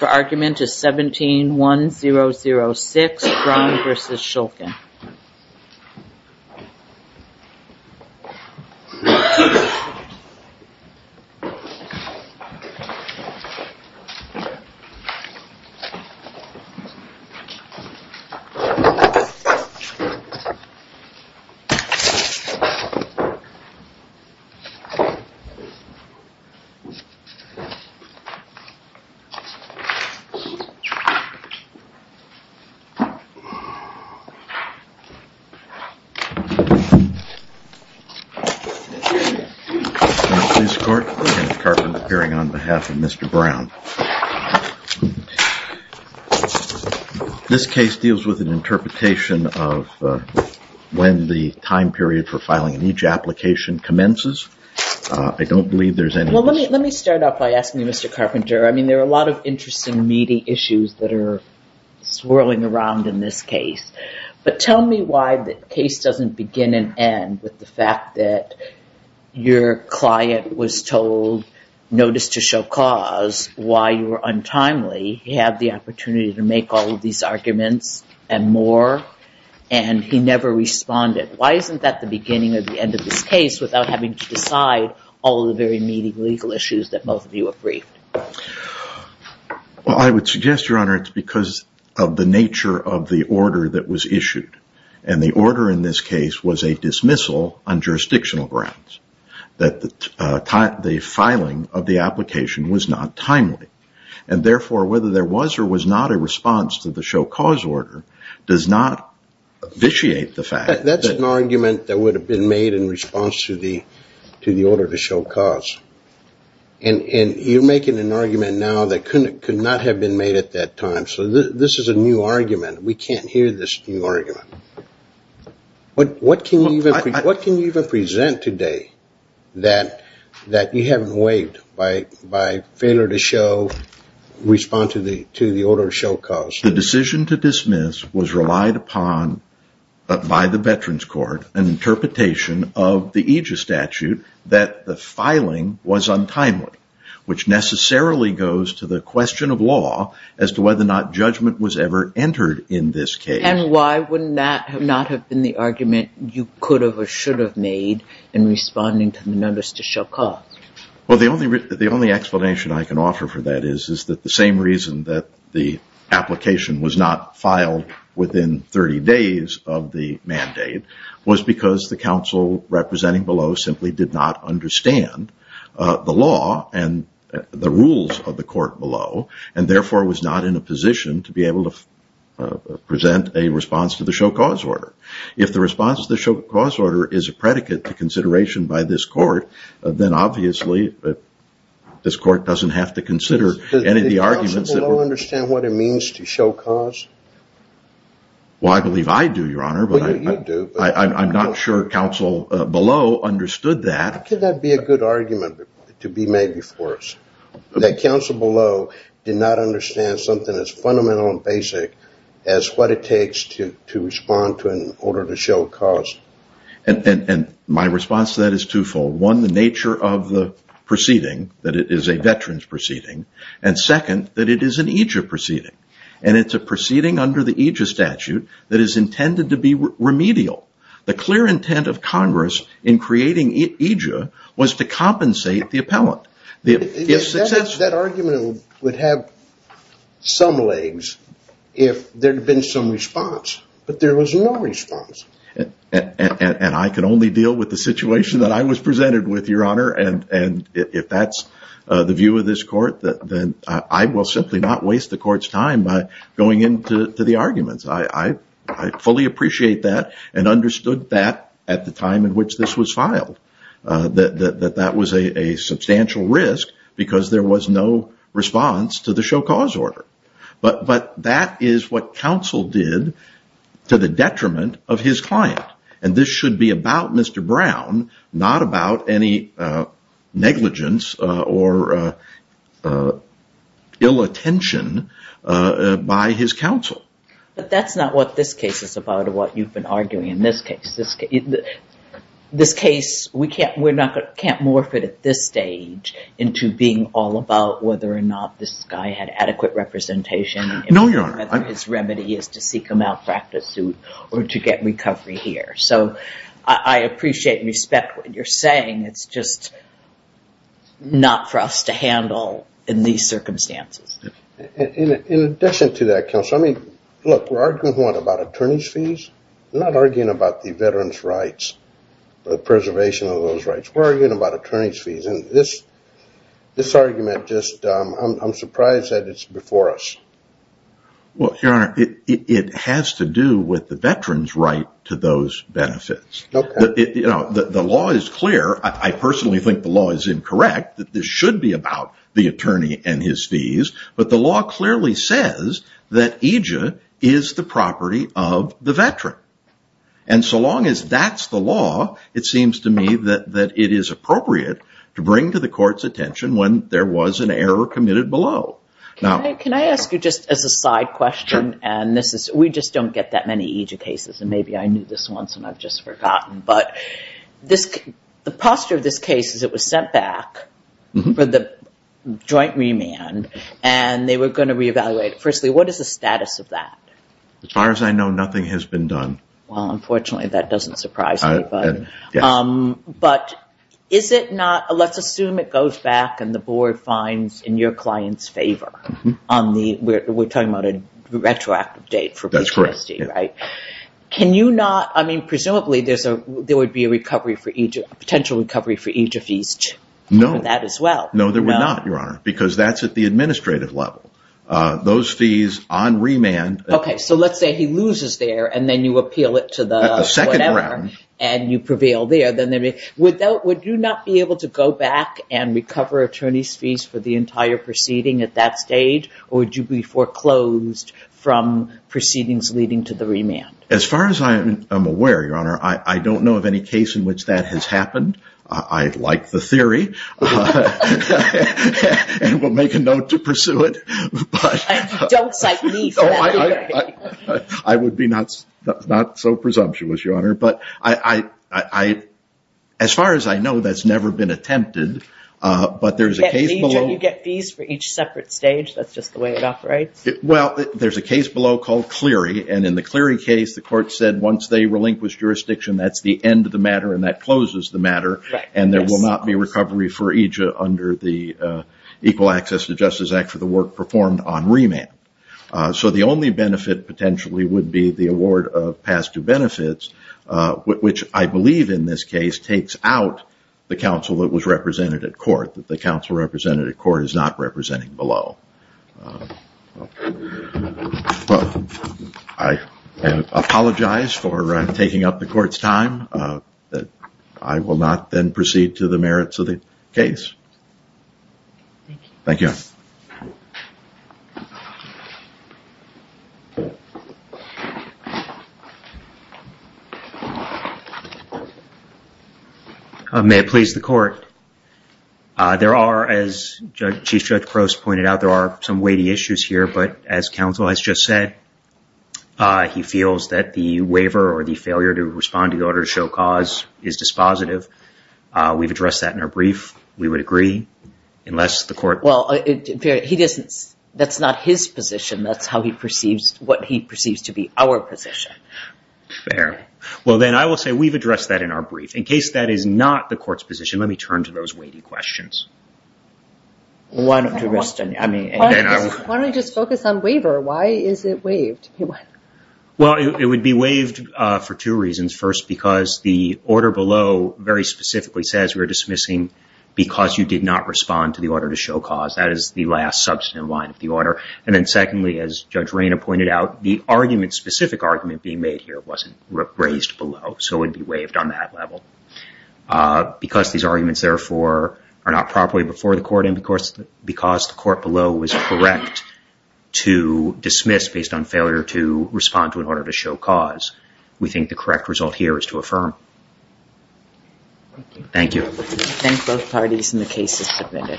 The argument is 17-1-0-0-6 Brown v. Shulkin This case deals with an interpretation of when the time period for filing an each application commences. I don't believe there's any... I'll start off by asking you, Mr. Carpenter, I mean, there are a lot of interesting meeting issues that are swirling around in this case, but tell me why the case doesn't begin and end with the fact that your client was told, notice to show cause, why you were untimely. He had the opportunity to make all of these arguments and more, and he never responded. Why isn't that the beginning of the end of this case without having to decide all of the very meeting legal issues that both of you have briefed? Well, I would suggest, Your Honor, it's because of the nature of the order that was issued. And the order in this case was a dismissal on jurisdictional grounds, that the filing of the application was not timely. And therefore, whether there was or was not a response to the show cause order does not vitiate the fact that... And you're making an argument now that could not have been made at that time. So this is a new argument. We can't hear this new argument. What can you even present today that you haven't waived by failure to show, respond to the order of show cause? The decision to dismiss was relied upon by the Veterans Court, an interpretation of the filing was untimely, which necessarily goes to the question of law as to whether or not judgment was ever entered in this case. And why would not have been the argument you could have or should have made in responding to the notice to show cause? The only explanation I can offer for that is that the same reason that the application was not filed within 30 days of the mandate was because the counsel representing below simply did not understand the law and the rules of the court below, and therefore was not in a position to be able to present a response to the show cause order. If the response to the show cause order is a predicate to consideration by this court, then obviously this court doesn't have to consider any of the arguments that... Does counsel below understand what it means to show cause? Well, I believe I do, Your Honor, but I'm not sure counsel below understood that. Could that be a good argument to be made before us? That counsel below did not understand something as fundamental and basic as what it takes to respond to an order to show cause? And my response to that is twofold. One, the nature of the proceeding, that it is a veterans proceeding, and second, that it is an EJIA proceeding, and it's a proceeding under the EJIA statute that is intended to be remedial. The clear intent of Congress in creating EJIA was to compensate the appellant. That argument would have some legs if there had been some response, but there was no response. And I can only deal with the situation that I was presented with, Your Honor, and if that's the view of this court, then I will simply not waste the court's time by going into the arguments. I fully appreciate that and understood that at the time in which this was filed, that that was a substantial risk because there was no response to the show cause order. But that is what counsel did to the detriment of his client, and this should be about Mr. Brown, not about any negligence or ill-attention by his counsel. But that's not what this case is about or what you've been arguing in this case. This case, we can't morph it at this stage into being all about whether or not this guy had adequate representation and whether his remedy is to seek a malpractice suit or to get recovery here. So I appreciate and respect what you're saying. It's just not for us to handle in these circumstances. In addition to that, counsel, I mean, look, we're arguing, one, about attorney's fees, not arguing about the veteran's rights, the preservation of those rights. We're arguing about attorney's fees, and this argument just, I'm surprised that it's before us. Well, Your Honor, it has to do with the veteran's right to those benefits. The law is clear. I personally think the law is incorrect, that this should be about the attorney and his fees, but the law clearly says that EJIA is the property of the veteran. And so long as that's the law, it seems to me that it is appropriate to bring to the court's attention when there was an error committed below. Can I ask you just as a side question? We just don't get that many EJIA cases, and maybe I knew this once and I've just forgotten, but the posture of this case is it was sent back for the joint remand, and they were going to reevaluate it. Firstly, what is the status of that? As far as I know, nothing has been done. Well, unfortunately, that doesn't surprise me. But let's assume it goes back and the we're talking about a retroactive date for PTSD, right? Can you not, I mean, presumably there would be a potential recovery for EJIA fees for that as well? No, there would not, Your Honor, because that's at the administrative level. Those fees on remand... Okay, so let's say he loses there, and then you appeal it to the whatever, and you prevail there. Would you not be able to go back and recover attorney's fees for the entire proceeding at that stage, or would you be foreclosed from proceedings leading to the remand? As far as I am aware, Your Honor, I don't know of any case in which that has happened. I like the theory, and will make a note to pursue it. I would be not so presumptuous, Your Honor, but as far as I know, that's never been attempted, but there's a case below... EJIA, you get fees for each separate stage. That's just the way it operates. Well, there's a case below called Cleary, and in the Cleary case, the court said once they relinquish jurisdiction, that's the end of the matter, and that closes the matter, and there will not be recovery for EJIA under the Equal Access to Justice Act for the work performed on remand. So the only benefit potentially would be the award of past due benefits, which I believe in this case takes out the counsel that was represented at court, that the counsel represented at court is not representing below. I apologize for taking up the court's time. I will not then proceed to the merits of the case. Thank you. May it please the court. There are, as Chief Judge Crouse pointed out, there are some weighty issues here, but as counsel has just said, he feels that the waiver or the failure to respond to the order to show cause is dispositive. We've addressed that in our brief. We would agree unless the court... Well, he doesn't... That's not his position. That's how he perceives... What he perceives to be our position. Fair. Well, then I will say we've addressed that in our brief. In case that is not the court's position, let me turn to those weighty questions. One question. I mean, and then I will... Why don't we just focus on waiver? Why is it waived? Well, it would be waived for two reasons. First, because the order below very specifically says we're dismissing because you did not respond to the order to show cause. That is the last substantive line of the order. And then secondly, as Judge Reyna pointed out, the argument, specific argument being made here wasn't raised below, so it would be waived on that level. Because these arguments, therefore, are not properly before the court and because the court below was correct to dismiss based on failure to respond to an order to show cause, we think the correct result here is to affirm. Thank you. Thank you. Thank both parties and the cases submitted.